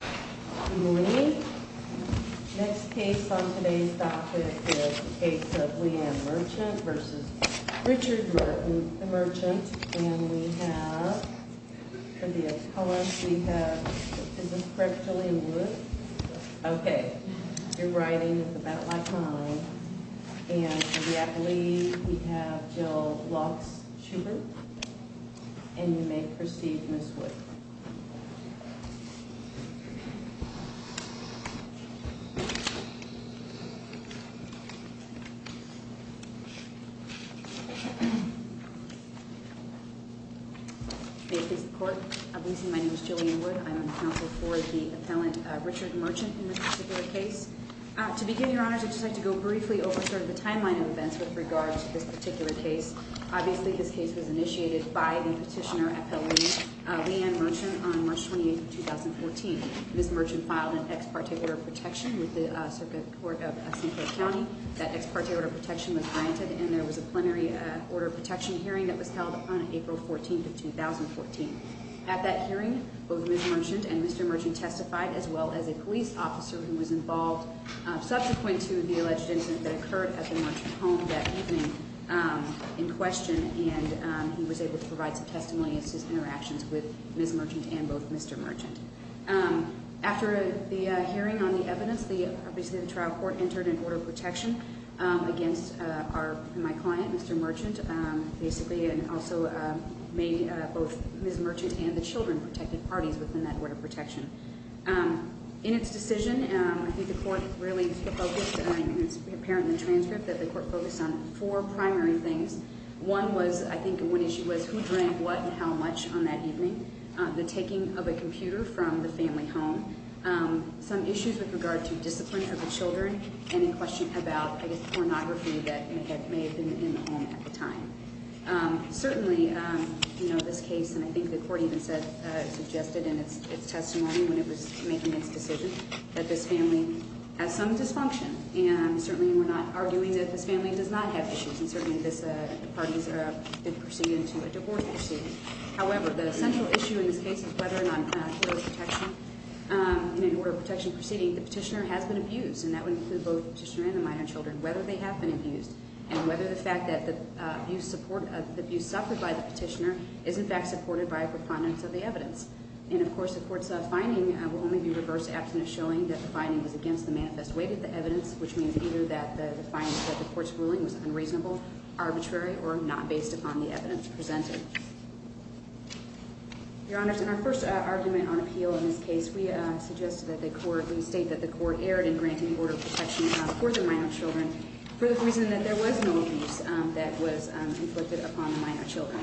Good morning. The next case on today's topic is the case of Leanne Merchant v. Richard Merchant. And we have, for the ex-college, we have, is this correct, Jillian Wood? Yes. Okay. Your writing is about my time. And for the academy, we have Jill Lox-Shubin. And you may proceed, Ms. Wood. May it please the Court, I believe my name is Jillian Wood. I'm on the counsel for the appellant Richard Merchant in this particular case. To begin, Your Honors, I'd just like to go briefly over sort of the timeline of events with regards to this particular case. Obviously, this case was initiated by the petitioner appellant, Leanne Merchant, on March 28th of 2014. Ms. Merchant filed an ex parte order of protection with the Circuit Court of St. Clair County. That ex parte order of protection was granted, and there was a plenary order of protection hearing that was held on April 14th of 2014. At that hearing, both Ms. Merchant and Mr. Merchant testified, as well as a police officer who was involved subsequent to the alleged incident that occurred at the Merchant home that evening in question. And he was able to provide some testimony as to his interactions with Ms. Merchant and both Mr. Merchant. After the hearing on the evidence, obviously the trial court entered an order of protection against my client, Mr. Merchant, basically, and also made both Ms. Merchant and the children protected parties within that order of protection. In its decision, I think the court really focused, and it's apparent in the transcript that the court focused on four primary things. One was, I think, one issue was who drank what and how much on that evening. The taking of a computer from the family home. Some issues with regard to discipline of the children, and in question about, I guess, pornography that may have been in the home at the time. Certainly, you know, this case, and I think the court even said, suggested in its testimony when it was making its decision, that this family has some dysfunction. And certainly, we're not arguing that this family does not have issues. And certainly, the parties did proceed into a divorce proceeding. However, the central issue in this case is whether or not in an order of protection proceeding, the petitioner has been abused. And that would include both the petitioner and the minor children, whether they have been abused, and whether the fact that the abuse suffered by the petitioner is, in fact, supported by a preponderance of the evidence. And of course, the court's finding will only be reverse abstinence, showing that the finding was against the manifest weight of the evidence, which means either that the findings of the court's ruling was unreasonable, arbitrary, or not based upon the evidence presented. Your Honors, in our first argument on appeal in this case, we suggested that the court, we state that the court erred in granting order of protection for the minor children for the reason that there was no abuse that was inflicted upon the minor children.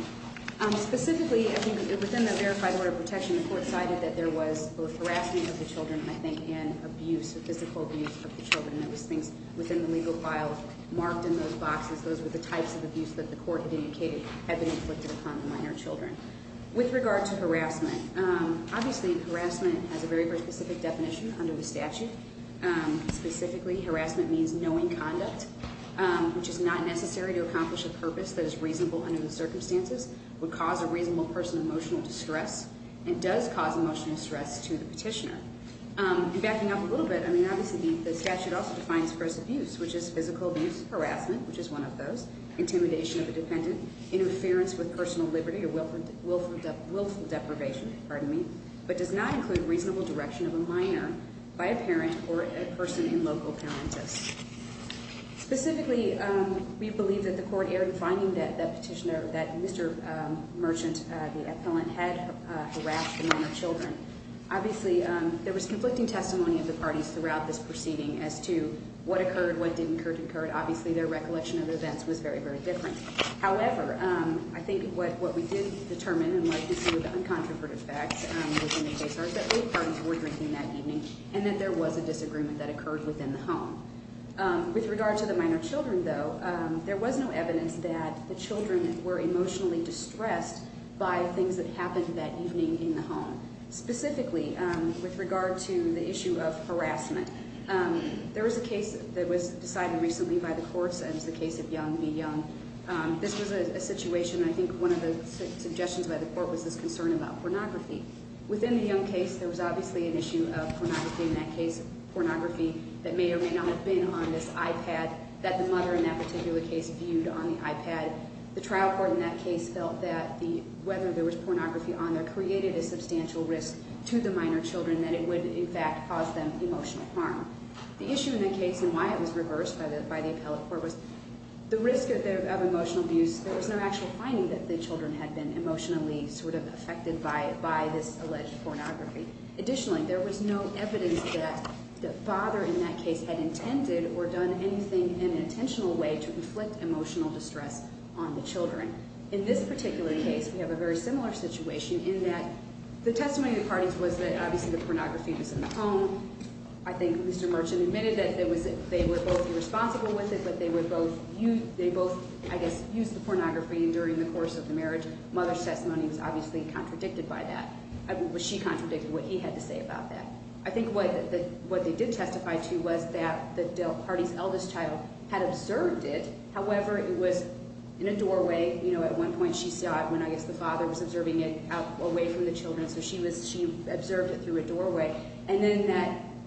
Specifically, I think within the verified order of protection, the court cited that there was both harassment of the children, I think, and abuse, physical abuse of the children. And there was things within the legal file marked in those boxes. Those were the types of abuse that the court indicated had been inflicted upon the minor children. With regard to harassment, obviously, harassment has a very specific definition under the statute. Specifically, harassment means knowing conduct, which is not necessary to accomplish a purpose that is reasonable under the circumstances, would cause a reasonable person emotional distress, and does cause emotional stress to the petitioner. And backing up a little bit, I mean, obviously, the statute also defines first abuse, which is physical abuse, harassment, which is one of those, intimidation of a dependent, interference with personal liberty or willful deprivation, pardon me, but does not include reasonable direction of a minor by a parent or a person in local parenthood. Specifically, we believe that the court erred in finding that petitioner, that Mr. Merchant, the appellant, had harassed the minor children. Obviously, there was conflicting testimony of the parties throughout this proceeding as to what occurred, what didn't occur, obviously their recollection of events was very, very different. However, I think what we did determine and like to see were the uncontroverted facts within the case are that both parties were drinking that evening and that there was a disagreement that occurred within the home. With regard to the minor children, though, there was no evidence that the children were emotionally distressed by things that happened that evening in the home. Specifically, with regard to the issue of harassment, there was a case that was decided recently by the courts, and it was the case of Young v. Young. This was a situation, I think one of the suggestions by the court was this concern about pornography. Within the Young case, there was obviously an issue of pornography in that case, pornography that may or may not have been on this iPad, that the mother in that particular case viewed on the iPad. The trial court in that case felt that whether there was pornography on there created a substantial risk to the minor children that it would, in fact, cause them emotional harm. The issue in that case and why it was reversed by the appellate court was the risk of emotional abuse. There was no actual finding that the children had been emotionally sort of affected by this alleged pornography. Additionally, there was no evidence that the father in that case had intended or done anything in an intentional way to inflict emotional distress on the children. In this particular case, we have a very similar situation in that the testimony of the parties was that obviously the pornography was in the home. I think Mr. Merchant admitted that they were both irresponsible with it, but they both used the pornography during the course of the marriage. Mother's testimony was obviously contradicted by that. She contradicted what he had to say about that. I think what they did testify to was that the parties' eldest child had observed it. However, it was in a doorway. At one point, she saw it when I guess the father was observing it away from the children, so she observed it through a doorway. And then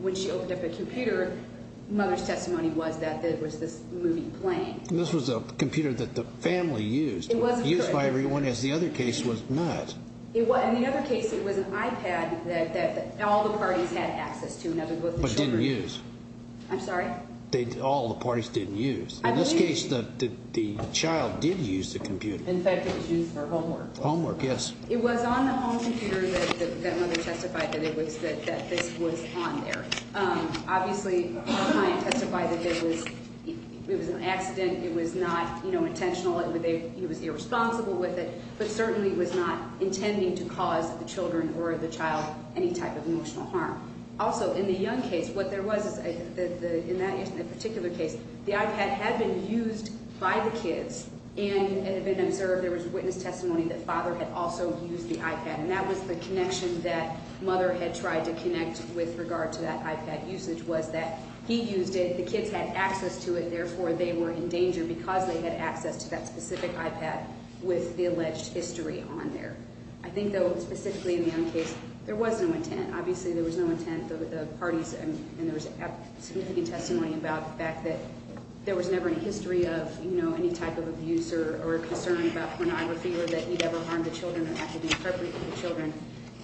when she opened up the computer, Mother's testimony was that there was this movie playing. This was a computer that the family used. It was. Used by everyone, as the other case was not. In the other case, it was an iPad that all the parties had access to. But didn't use. I'm sorry? All the parties didn't use. In this case, the child did use the computer. In fact, it was used for homework. Homework, yes. It was on the home computer that Mother testified that this was on there. Obviously, my client testified that it was an accident. It was not intentional. He was irresponsible with it, but certainly was not intending to cause the children or the child any type of emotional harm. Also, in the young case, what there was in that particular case, the iPad had been used by the kids and had been observed. There was witness testimony that Father had also used the iPad. And that was the connection that Mother had tried to connect with regard to that iPad usage was that he used it. The kids had access to it. Therefore, they were in danger because they had access to that specific iPad with the alleged history on there. I think, though, specifically in the young case, there was no intent. Obviously, there was no intent. And there was significant testimony about the fact that there was never any history of, you know, any type of abuse or concern about pornography or that he had ever harmed the children or acted inappropriately with the children.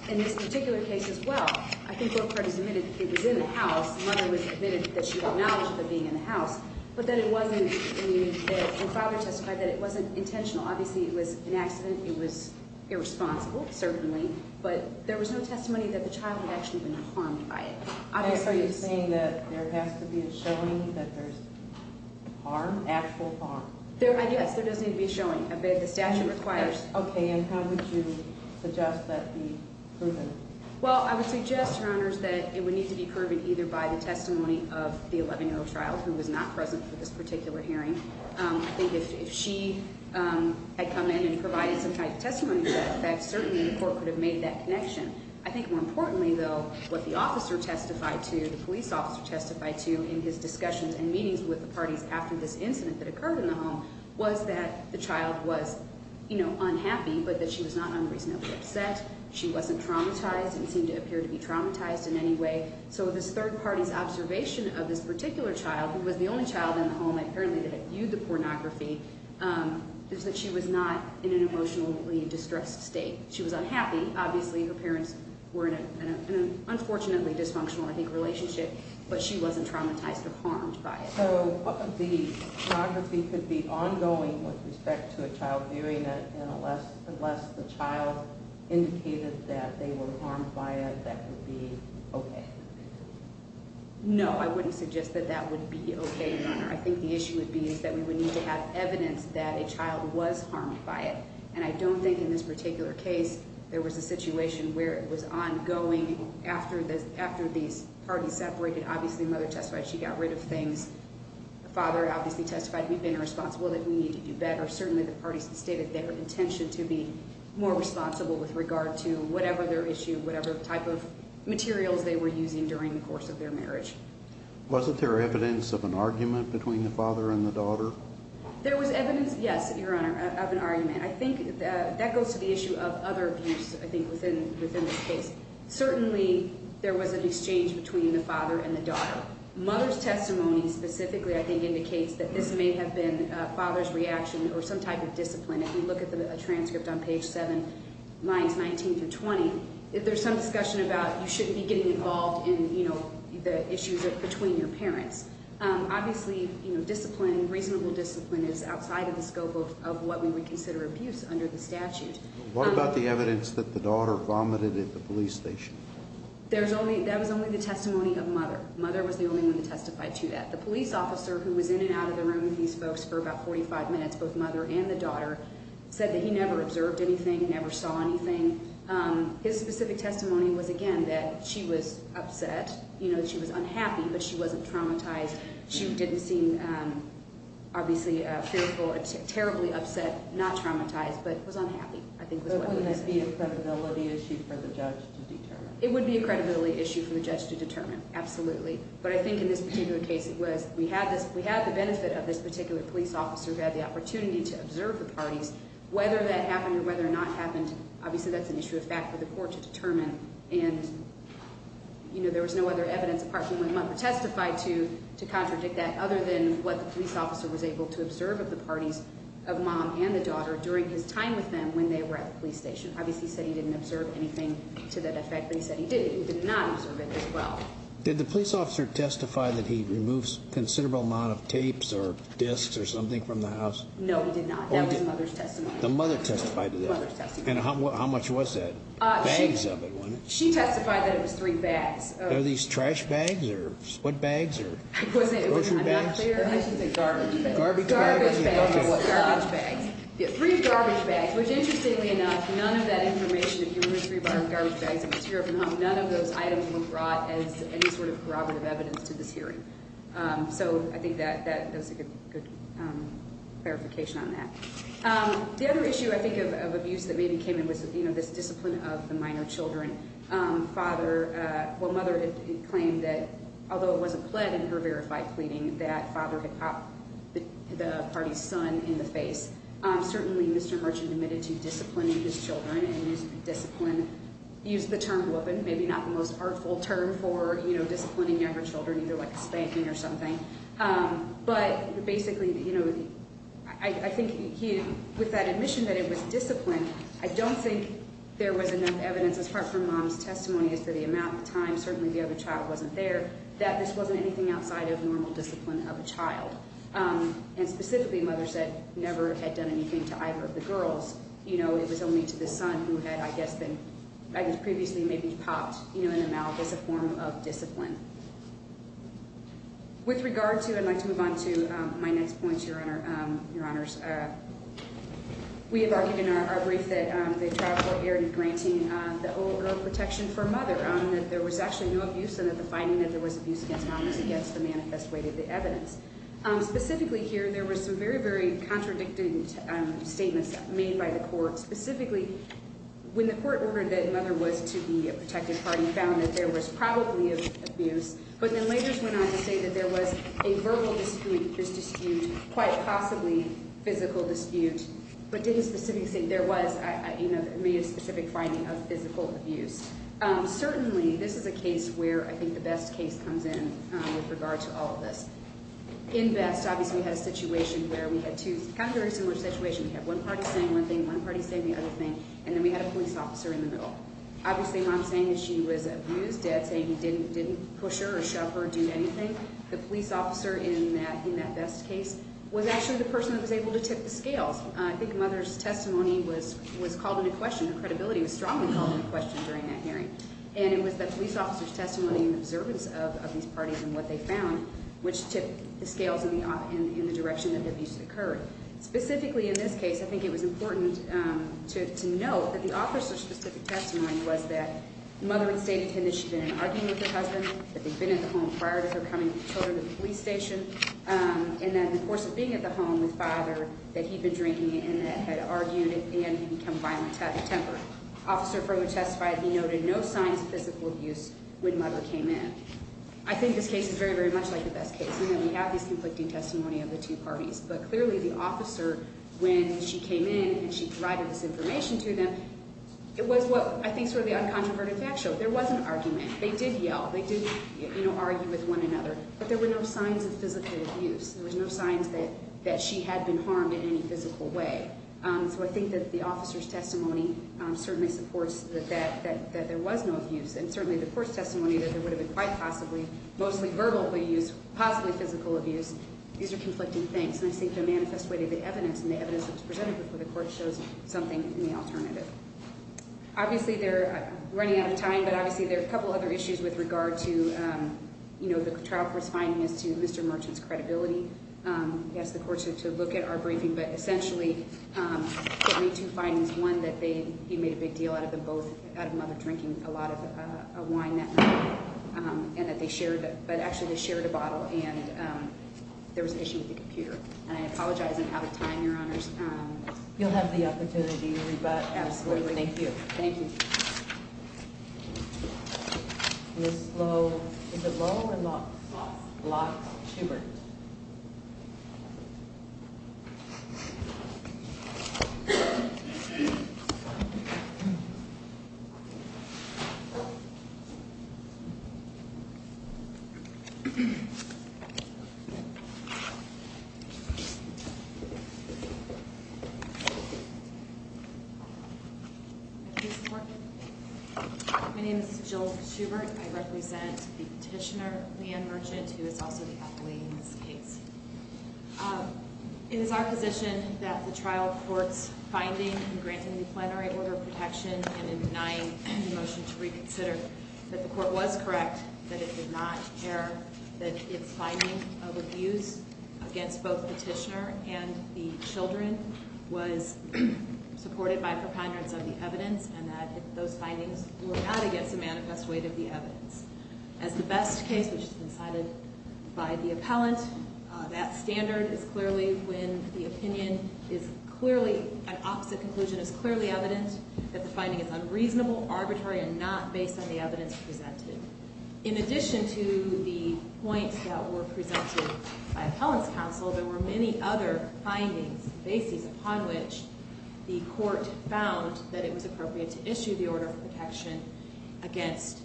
In this particular case as well, I think both parties admitted it was in the house. Mother admitted that she had knowledge of it being in the house. But then it wasn't, and Father testified that it wasn't intentional. Obviously, it was an accident. It was irresponsible, certainly. But there was no testimony that the child had actually been harmed by it. Are you saying that there has to be a showing that there's harm, actual harm? Yes, there does need to be a showing. The statute requires. Okay. And how would you suggest that be proven? Well, I would suggest, Your Honors, that it would need to be proven either by the testimony of the 11-year-old child, who was not present for this particular hearing. I think if she had come in and provided some type of testimony to that effect, certainly the court could have made that connection. I think more importantly, though, what the officer testified to, the police officer testified to in his discussions and meetings with the parties after this incident that occurred in the home, was that the child was, you know, unhappy, but that she was not unreasonably upset. She wasn't traumatized and seemed to appear to be traumatized in any way. So this third party's observation of this particular child, who was the only child in the home apparently that viewed the pornography, is that she was not in an emotionally distressed state. She was unhappy. Obviously, her parents were in an unfortunately dysfunctional, I think, relationship, but she wasn't traumatized or harmed by it. So, what if the pornography could be ongoing with respect to a child viewing it, and unless the child indicated that they were harmed by it, that would be okay? No, I wouldn't suggest that that would be okay, Your Honor. I think the issue would be is that we would need to have evidence that a child was harmed by it, and I don't think in this particular case there was a situation where it was ongoing after these parties separated. Obviously, the mother testified she got rid of things. The father obviously testified he'd been responsible that we needed to do better. Certainly, the parties stated their intention to be more responsible with regard to whatever their issue, whatever type of materials they were using during the course of their marriage. Wasn't there evidence of an argument between the father and the daughter? There was evidence, yes, Your Honor, of an argument. I think that goes to the issue of other abuse, I think, within this case. Certainly, there was an exchange between the father and the daughter. Mother's testimony specifically, I think, indicates that this may have been father's reaction or some type of discipline. If you look at the transcript on page 7, lines 19 through 20, there's some discussion about you shouldn't be getting involved in, you know, the issues between your parents. Obviously, you know, discipline, reasonable discipline is outside of the scope of what we would consider abuse under the statute. What about the evidence that the daughter vomited at the police station? That was only the testimony of mother. Mother was the only one to testify to that. The police officer who was in and out of the room with these folks for about 45 minutes, both mother and the daughter, said that he never observed anything, never saw anything. His specific testimony was, again, that she was upset, you know, that she was unhappy, but she wasn't traumatized. She didn't seem, obviously, fearful, terribly upset, not traumatized, but was unhappy, I think, was what I would say. But wouldn't that be a credibility issue for the judge to determine? It would be a credibility issue for the judge to determine, absolutely. But I think in this particular case, it was we had the benefit of this particular police officer who had the opportunity to observe the parties. Whether that happened or whether or not happened, obviously, that's an issue of fact for the court to determine. And, you know, there was no other evidence apart from when mother testified to contradict that, other than what the police officer was able to observe of the parties of mom and the daughter during his time with them when they were at the police station. Obviously, he said he didn't observe anything to that effect, but he said he did. He did not observe it as well. Did the police officer testify that he removes considerable amount of tapes or disks or something from the house? No, he did not. That was mother's testimony. The mother testified to that? Mother's testimony. And how much was that? Bags of it, wasn't it? She testified that it was three bags. Are these trash bags or what bags or grocery bags? I'm not sure. I think they're garbage bags. Garbage bags. Garbage bags. Garbage bags. Three garbage bags, which, interestingly enough, none of that information, if you remove three garbage bags of material from the home, none of those items were brought as any sort of corroborative evidence to this hearing. So I think that's a good clarification on that. The other issue, I think, of abuse that maybe came in was this discipline of the minor children. Mother claimed that, although it wasn't pled in her verified pleading, that father had popped the party's son in the face. Certainly, Mr. Merchant admitted to disciplining his children and used the term woman, maybe not the most artful term for disciplining younger children, either like a spanking or something. But basically, I think with that admission that it was discipline, I don't think there was enough evidence, as far as her mom's testimony, as to the amount of time, certainly the other child wasn't there, that this wasn't anything outside of normal discipline of a child. And specifically, mother said never had done anything to either of the girls. It was only to the son who had, I guess, previously maybe popped in the mouth as a form of discipline. With regard to, I'd like to move on to my next point, Your Honors. We have argued in our brief that the trial court erred in granting the oral protection for mother, that there was actually no abuse and that the finding that there was abuse against mom was against the manifest way that the evidence. Specifically here, there was some very, very contradicting statements made by the court. Specifically, when the court ordered that mother was to be a protected party, found that there was probably abuse, but then later went on to say that there was a verbal dispute, a physical dispute, quite possibly a physical dispute, but didn't specifically say there was a specific finding of physical abuse. Certainly, this is a case where I think the best case comes in with regard to all of this. In best, obviously we had a situation where we had two, kind of a very similar situation. We had one party saying one thing, one party saying the other thing, and then we had a police officer in the middle. Obviously, what I'm saying is she was abused. Dad's saying he didn't push her or shove her or do anything. The police officer in that best case was actually the person that was able to tip the scales. I think mother's testimony was called into question. Her credibility was strongly called into question during that hearing. And it was the police officer's testimony and observance of these parties and what they found which tipped the scales in the direction that the abuse occurred. Specifically in this case, I think it was important to note that the officer's specific testimony was that mother had stated to him that she'd been in an argument with her husband, that they'd been at the home prior to her coming with the children to the police station, and that in the course of being at the home with father, that he'd been drinking and that had argued, and he'd become violent out of temper. Officer Frohman testified he noted no signs of physical abuse when mother came in. I think this case is very, very much like the best case. We have these conflicting testimony of the two parties, but clearly the officer, when she came in and she provided this information to them, it was what I think sort of the uncontroverted fact showed. There was an argument. They did yell. They did argue with one another. But there were no signs of physical abuse. There were no signs that she had been harmed in any physical way. So I think that the officer's testimony certainly supports that there was no abuse. And certainly the court's testimony that there would have been quite possibly, mostly verbal abuse, possibly physical abuse, these are conflicting things. And I think they manifest way to the evidence, and the evidence that was presented before the court shows something in the alternative. Obviously they're running out of time, but obviously there are a couple other issues with regard to, you know, the trial court's finding as to Mr. Merchant's credibility. He asked the court to look at our briefing, but essentially there were two findings. One, that he made a big deal out of them both, out of them both drinking a lot of wine that night, and that they shared a bottle, and there was an issue with the computer. And I apologize I'm out of time, Your Honors. You'll have the opportunity to rebut. Absolutely. Thank you. Thank you. Ms. Lowe, is it Lowe or Locke? Locke. Locke. Gilbert. My name is Jill Gilbert. I represent the petitioner, Leanne Merchant, who is also the athlete in this case. It is our position that the trial court's finding in granting the plenary order of protection and in denying the motion to reconsider, that the court was correct that it did not care that its finding of abuse against both the petitioner and the children was supported by preponderance of the evidence and that those findings were not against the manifest weight of the evidence. As the best case, which has been cited by the appellant, that standard is clearly, when the opinion is clearly, an opposite conclusion is clearly evident, that the finding is unreasonable, arbitrary, and not based on the evidence presented. In addition to the points that were presented by appellant's counsel, there were many other findings, bases upon which the court found that it was appropriate to issue the order of protection against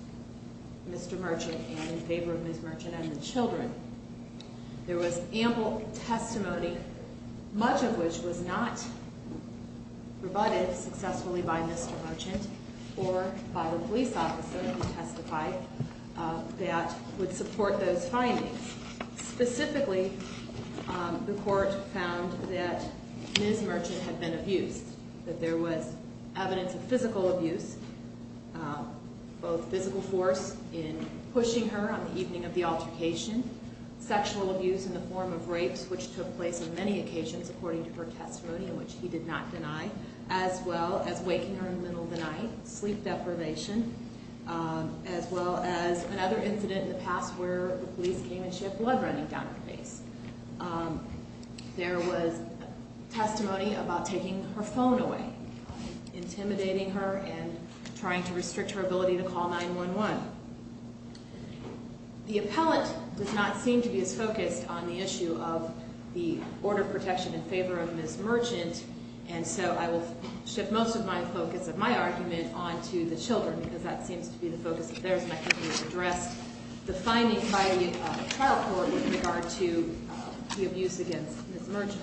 Mr. Merchant and in favor of Ms. Merchant and the children. There was ample testimony, much of which was not rebutted successfully by Mr. Merchant or by the police officer who testified that would support those findings. Specifically, the court found that Ms. Merchant had been abused, that there was evidence of physical abuse, both physical force in pushing her on the evening of the altercation, sexual abuse in the form of rapes, which took place on many occasions according to her testimony, which he did not deny, as well as waking her in the middle of the night, sleep deprivation, as well as another incident in the past where the police came and she had blood running down her face. There was testimony about taking her phone away, intimidating her and trying to restrict her ability to call 911. The appellant does not seem to be as focused on the issue of the order of protection in favor of Ms. Merchant, and so I will shift most of my focus of my argument on to the children because that seems to be the focus of theirs and I think it was addressed, the finding by the trial court with regard to the abuse against Ms. Merchant.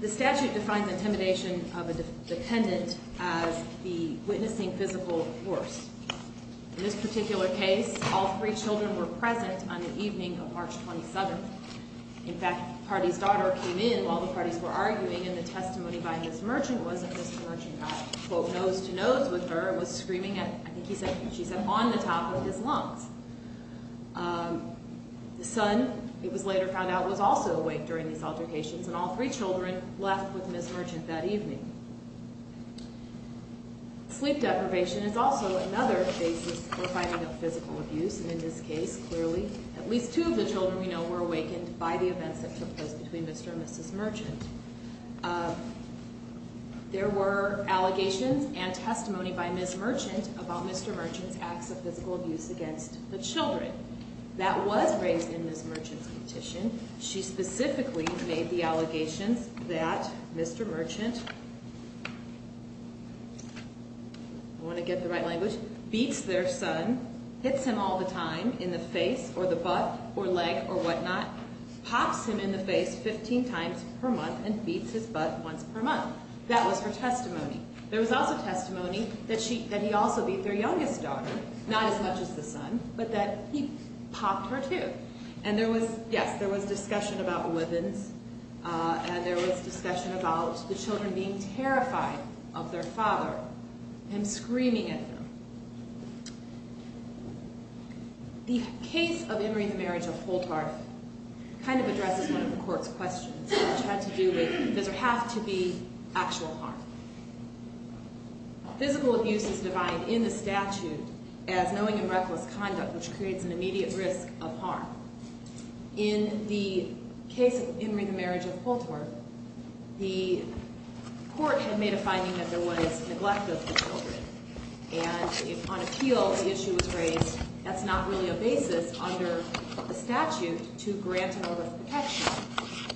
The statute defines intimidation of a dependent as the witnessing physical force. In this particular case, all three children were present on the evening of March 27th. In fact, the party's daughter came in while the parties were arguing and the testimony by Ms. Merchant was that Ms. Merchant got, quote, nose-to-nose with her and was screaming, I think she said, on the top of his lungs. The son, it was later found out, was also awake during these altercations and all three children left with Ms. Merchant that evening. Sleep deprivation is also another basis for finding of physical abuse and in this case, clearly, at least two of the children we know were awakened by the events that took place between Mr. and Mrs. Merchant. There were allegations and testimony by Ms. Merchant about Mr. Merchant's acts of physical abuse against the children. That was raised in Ms. Merchant's petition. She specifically made the allegations that Mr. Merchant, I want to get the right language, Mr. Merchant beats their son, hits him all the time in the face or the butt or leg or whatnot, pops him in the face 15 times per month and beats his butt once per month. That was her testimony. There was also testimony that he also beat their youngest daughter, not as much as the son, but that he popped her, too. And there was, yes, there was discussion about weapons and there was discussion about the children being terrified of their father, him screaming at them. The case of Emory the Marriage of Holtharth kind of addresses one of the court's questions, which had to do with does there have to be actual harm? Physical abuse is defined in the statute as knowing and reckless conduct, which creates an immediate risk of harm. In the case of Emory the Marriage of Holtharth, the court had made a finding that there was neglect of the children. And on appeal, the issue was raised that's not really a basis under the statute to grant an order of protection.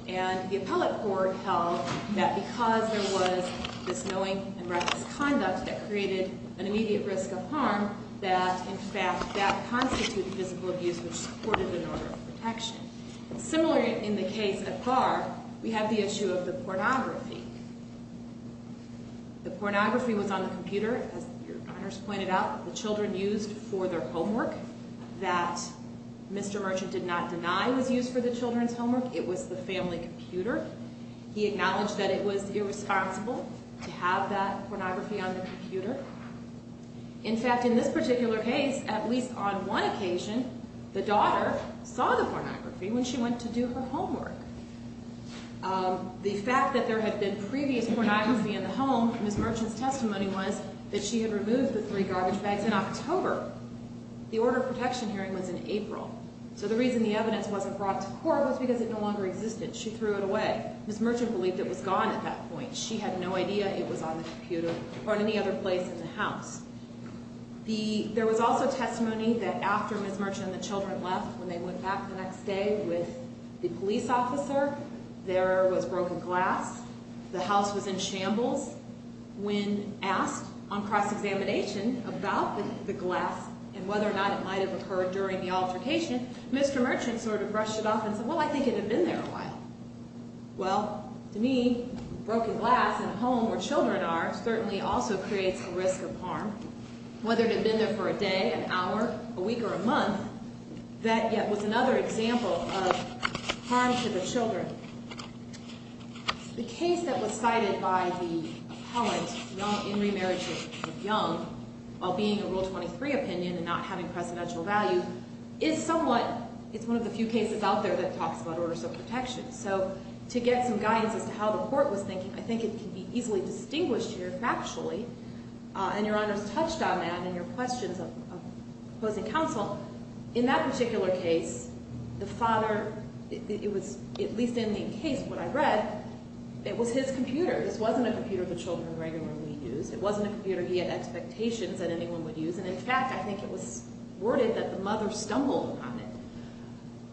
And the appellate court held that because there was this knowing and reckless conduct that created an immediate risk of harm, that, in fact, that constituted physical abuse, which supported an order of protection. Similar in the case of Carr, we have the issue of the pornography. The pornography was on the computer, as your honors pointed out, the children used for their homework. That Mr. Merchant did not deny was used for the children's homework. It was the family computer. He acknowledged that it was irresponsible to have that pornography on the computer. In fact, in this particular case, at least on one occasion, the daughter saw the pornography when she went to do her homework. The fact that there had been previous pornography in the home, Ms. Merchant's testimony was that she had removed the three garbage bags in October. The order of protection hearing was in April. So the reason the evidence wasn't brought to court was because it no longer existed. She threw it away. Ms. Merchant believed it was gone at that point. She had no idea it was on the computer or any other place in the house. There was also testimony that after Ms. Merchant and the children left, when they went back the next day with the police officer, there was broken glass. The house was in shambles. When asked on cross-examination about the glass and whether or not it might have occurred during the altercation, Mr. Merchant sort of brushed it off and said, well, I think it had been there a while. Well, to me, broken glass in a home where children are certainly also creates a risk of harm. Whether it had been there for a day, an hour, a week, or a month, that yet was another example of harm to the children. The case that was cited by the appellant in remarriage of Young, while being a Rule 23 opinion and not having presidential value, is somewhat, it's one of the few cases out there that talks about orders of protection. So to get some guidance as to how the court was thinking, I think it can be easily distinguished here factually. And Your Honors touched on that in your questions of opposing counsel. In that particular case, the father, it was at least in the case what I read, it was his computer. This wasn't a computer the children regularly used. It wasn't a computer he had expectations that anyone would use. And in fact, I think it was worded that the mother stumbled upon it,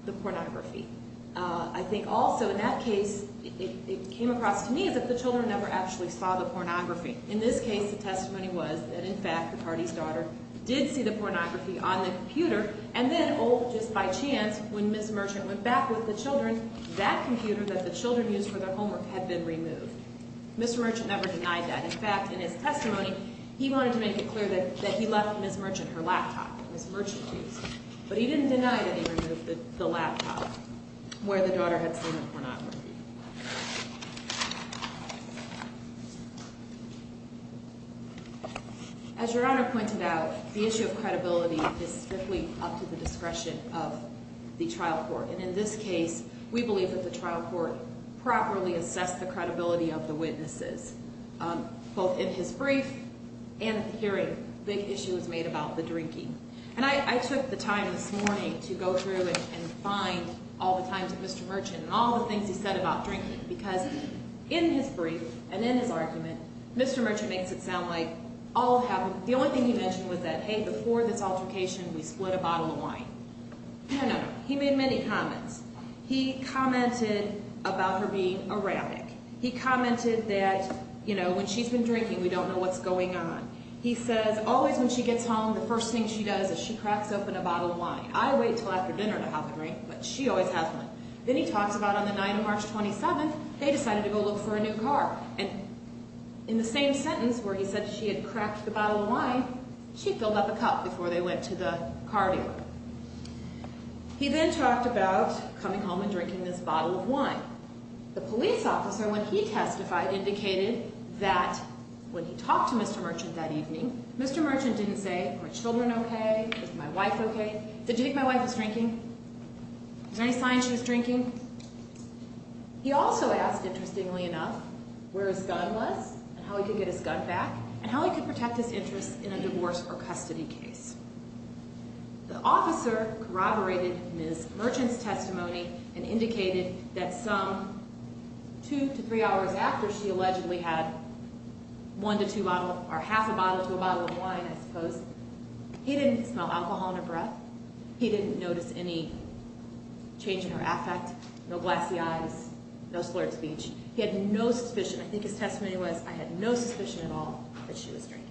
the pornography. I think also in that case, it came across to me as if the children never actually saw the pornography. In this case, the testimony was that, in fact, the party's daughter did see the pornography on the computer. And then, oh, just by chance, when Ms. Merchant went back with the children, that computer that the children used for their homework had been removed. Mr. Merchant never denied that. In fact, in his testimony, he wanted to make it clear that he left Ms. Merchant her laptop that Ms. Merchant used. But he didn't deny that he removed the laptop where the daughter had seen the pornography. As Your Honor pointed out, the issue of credibility is strictly up to the discretion of the trial court. And in this case, we believe that the trial court properly assessed the credibility of the witnesses, both in his brief and in the hearing. A big issue was made about the drinking. And I took the time this morning to go through and find all the times of Mr. Merchant and all the things he said about drinking. Because in his brief and in his argument, Mr. Merchant makes it sound like all happened. The only thing he mentioned was that, hey, before this altercation, we split a bottle of wine. No, no, no. He made many comments. He commented about her being erratic. He commented that, you know, when she's been drinking, we don't know what's going on. He says, always when she gets home, the first thing she does is she cracks open a bottle of wine. I wait until after dinner to have a drink, but she always has one. Then he talks about on the 9th of March, 27th, they decided to go look for a new car. And in the same sentence where he said she had cracked the bottle of wine, she filled up a cup before they went to the car dealer. He then talked about coming home and drinking this bottle of wine. The police officer, when he testified, indicated that when he talked to Mr. Merchant that evening, Mr. Merchant didn't say, are my children okay? Is my wife okay? Did you think my wife was drinking? Is there any sign she was drinking? He also asked, interestingly enough, where his gun was and how he could get his gun back and how he could protect his interests in a divorce or custody case. The officer corroborated Ms. Merchant's testimony and indicated that some two to three hours after she allegedly had one to two bottles or half a bottle to a bottle of wine, I suppose, he didn't smell alcohol in her breath. He didn't notice any change in her affect, no glassy eyes, no slurred speech. He had no suspicion. I think his testimony was, I had no suspicion at all that she was drinking.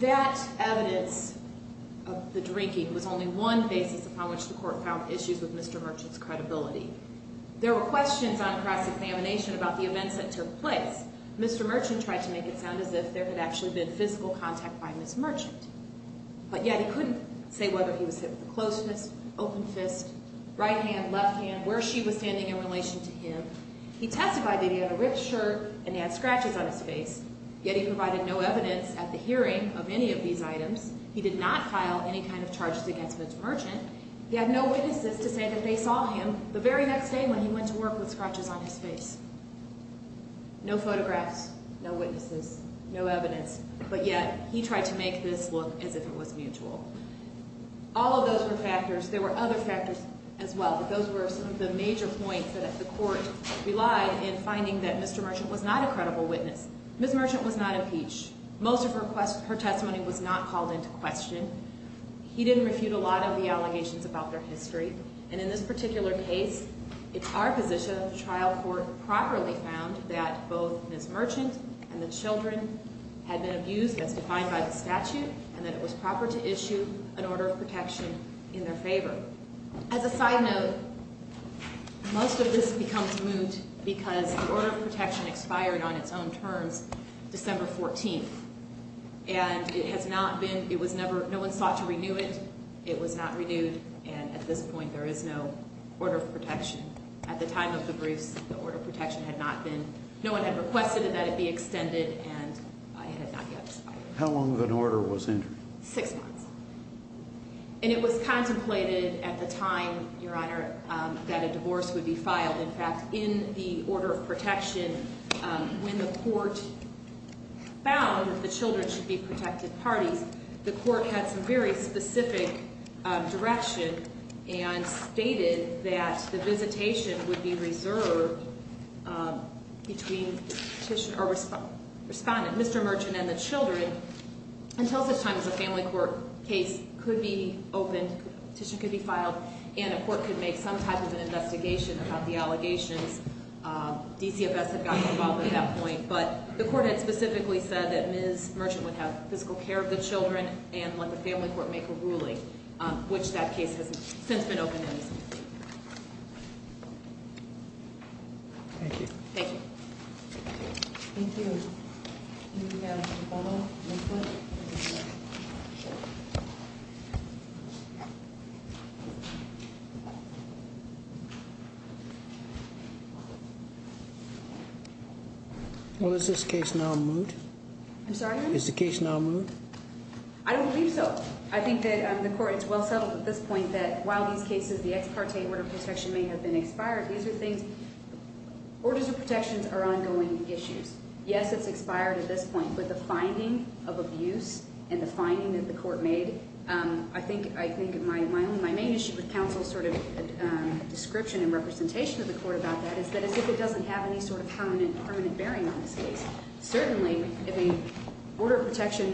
That evidence of the drinking was only one basis upon which the court found issues with Mr. Merchant's credibility. There were questions on cross-examination about the events that took place. Mr. Merchant tried to make it sound as if there had actually been physical contact by Ms. Merchant, but yet he couldn't say whether he was hit with a closed fist, open fist, right hand, left hand, where she was standing in relation to him. He testified that he had a ripped shirt and he had scratches on his face, yet he provided no evidence at the hearing of any of these items. He did not file any kind of charges against Ms. Merchant. He had no witnesses to say that they saw him the very next day when he went to work with scratches on his face. No photographs, no witnesses, no evidence, but yet he tried to make this look as if it was mutual. All of those were factors. There were other factors as well, but those were some of the major points that the court relied in finding that Mr. Merchant was not a credible witness. Ms. Merchant was not impeached. Most of her testimony was not called into question. He didn't refute a lot of the allegations about their history. And in this particular case, it's our position the trial court properly found that both Ms. Merchant and the children had been abused as defined by the statute and that it was proper to issue an order of protection in their favor. As a side note, most of this becomes moot because the order of protection expired on its own terms December 14th. And it has not been, it was never, no one sought to renew it. It was not renewed, and at this point there is no order of protection. At the time of the briefs, the order of protection had not been, no one had requested that it be extended, and it had not yet expired. How long of an order was in? Six months. And it was contemplated at the time, Your Honor, that a divorce would be filed. In fact, in the order of protection, when the court found that the children should be protected parties, the court had some very specific direction and stated that the visitation would be reserved between the petitioner, or respondent, Mr. Merchant and the children until such time as a family court case could be opened, petition could be filed, and a court could make some type of an investigation about the allegations. DCFS had gotten involved at that point. But the court had specifically said that Ms. Merchant would have physical care of the children and let the family court make a ruling, which that case has since been opened in this case. Thank you. Thank you. Thank you. Do we have a follow-up question? Well, is this case now moved? I'm sorry, Your Honor? Is the case now moved? I don't believe so. I think that the court is well settled at this point that while these cases, the ex parte order of protection may have been expired, these are things, orders of protections are ongoing issues. Yes, it's expired at this point, but the finding of abuse and the finding that the court made, I think my main issue with counsel's sort of description and representation of the court about that is that it doesn't have any sort of permanent bearing on this case. Certainly, if an order of protection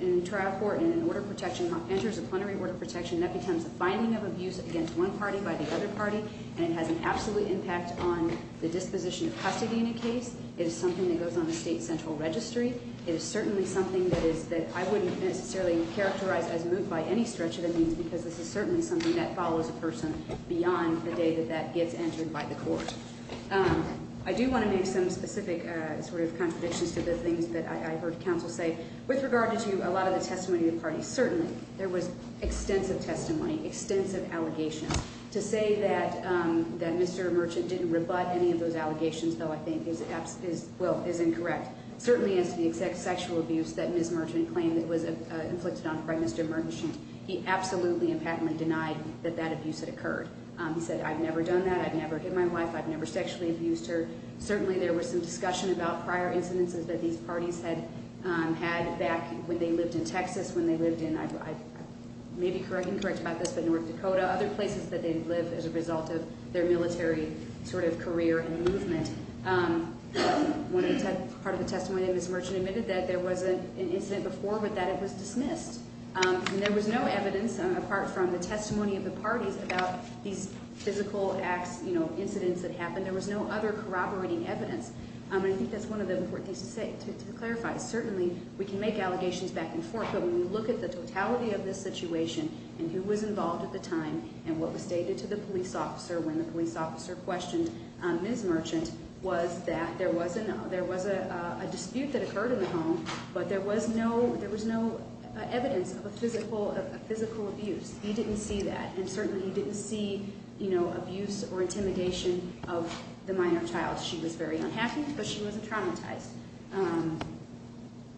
in a trial court and an order of protection enters a plenary order of protection, that becomes a finding of abuse against one party by the other party, and it has an absolute impact on the disposition of custody in a case. It is something that goes on the state central registry. It is certainly something that I wouldn't necessarily characterize as moved by any stretch of the means, because this is certainly something that follows a person beyond the day that that gets entered by the court. I do want to make some specific sort of contradictions to the things that I heard counsel say. With regard to a lot of the testimony of the parties, certainly there was extensive testimony, extensive allegations. To say that Mr. Merchant didn't rebut any of those allegations, though, I think is incorrect. Certainly, as to the sexual abuse that Ms. Merchant claimed that was inflicted on her by Mr. Merchant, he absolutely and patently denied that that abuse had occurred. He said, I've never done that, I've never hit my wife, I've never sexually abused her. Certainly, there was some discussion about prior incidences that these parties had had back when they lived in Texas, when they lived in, I may be incorrect about this, but North Dakota, other places that they've lived as a result of their military sort of career and movement. Part of the testimony that Ms. Merchant admitted that there was an incident before, but that it was dismissed. And there was no evidence, apart from the testimony of the parties, about these physical acts, you know, incidents that happened. And there was no other corroborating evidence. I think that's one of the important things to say, to clarify. Certainly, we can make allegations back and forth, but when you look at the totality of this situation, and who was involved at the time, and what was stated to the police officer when the police officer questioned Ms. Merchant, was that there was a dispute that occurred in the home, but there was no evidence of a physical abuse. He didn't see that. And certainly, he didn't see, you know, abuse or intimidation of the minor child. She was very unhappy, but she wasn't traumatized.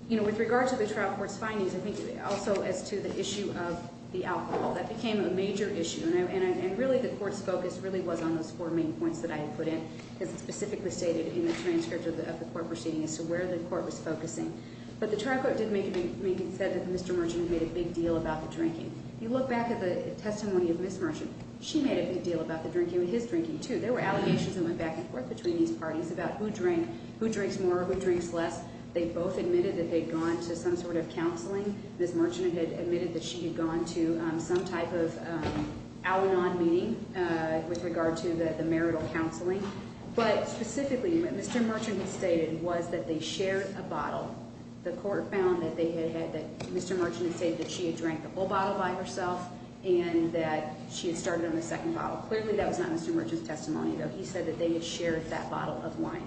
You know, with regard to the trial court's findings, I think also as to the issue of the alcohol, that became a major issue. And really, the court's focus really was on those four main points that I had put in, as specifically stated in the transcript of the court proceeding, as to where the court was focusing. But the trial court did make it said that Mr. Merchant made a big deal about the drinking. If you look back at the testimony of Ms. Merchant, she made a big deal about the drinking and his drinking, too. There were allegations that went back and forth between these parties about who drank, who drinks more, who drinks less. They both admitted that they'd gone to some sort of counseling. Ms. Merchant had admitted that she had gone to some type of out-and-on meeting with regard to the marital counseling. But specifically, what Mr. Merchant had stated was that they shared a bottle. The court found that Mr. Merchant had stated that she had drank the whole bottle by herself and that she had started on the second bottle. Clearly, that was not Mr. Merchant's testimony, though. He said that they had shared that bottle of wine.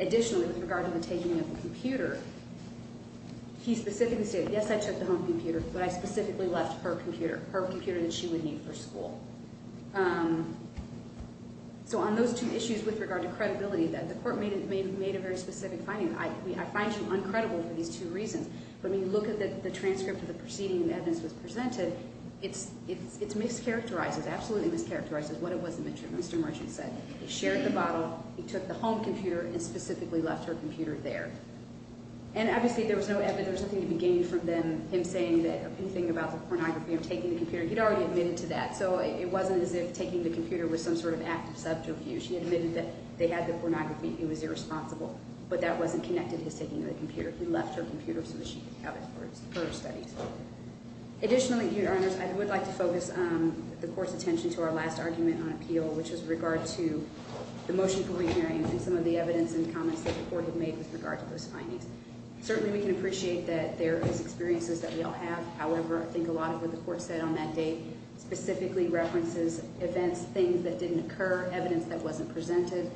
Additionally, with regard to the taking of the computer, he specifically stated, yes, I took the home computer, but I specifically left her computer, her computer that she would need for school. So on those two issues with regard to credibility, the court made a very specific finding. I find you uncredible for these two reasons. But when you look at the transcript of the preceding evidence that was presented, it's mischaracterized, it's absolutely mischaracterized what it was that Mr. Merchant said. He shared the bottle, he took the home computer, and specifically left her computer there. And obviously, there was no evidence, there was nothing to be gained from him saying anything about the pornography of taking the computer. He'd already admitted to that. So it wasn't as if taking the computer was some sort of act of subterfuge. He admitted that they had the pornography. It was irresponsible. But that wasn't connected to his taking of the computer. He left her computer so that she could have it for her studies. Additionally, Your Honors, I would like to focus the court's attention to our last argument on appeal, which was with regard to the motion for remarry and some of the evidence and comments that the court had made with regard to those findings. Certainly, we can appreciate that there is experiences that we all have. However, I think a lot of what the court said on that date specifically references events, things that didn't occur, evidence that wasn't presented,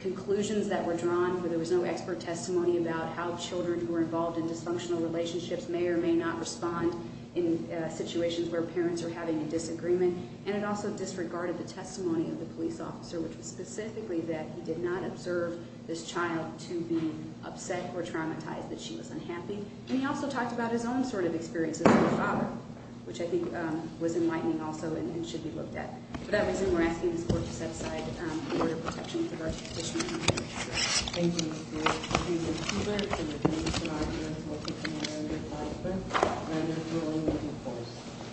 conclusions that were drawn where there was no expert testimony about how children who are involved in dysfunctional relationships may or may not respond in situations where parents are having a disagreement. And it also disregarded the testimony of the police officer, which was specifically that he did not observe this child to be upset or traumatized that she was unhappy. And he also talked about his own sort of experiences with her father, which I think was enlightening also and should be looked at. For that reason, we're asking this court to set aside a word of protection for the court's petition. Thank you.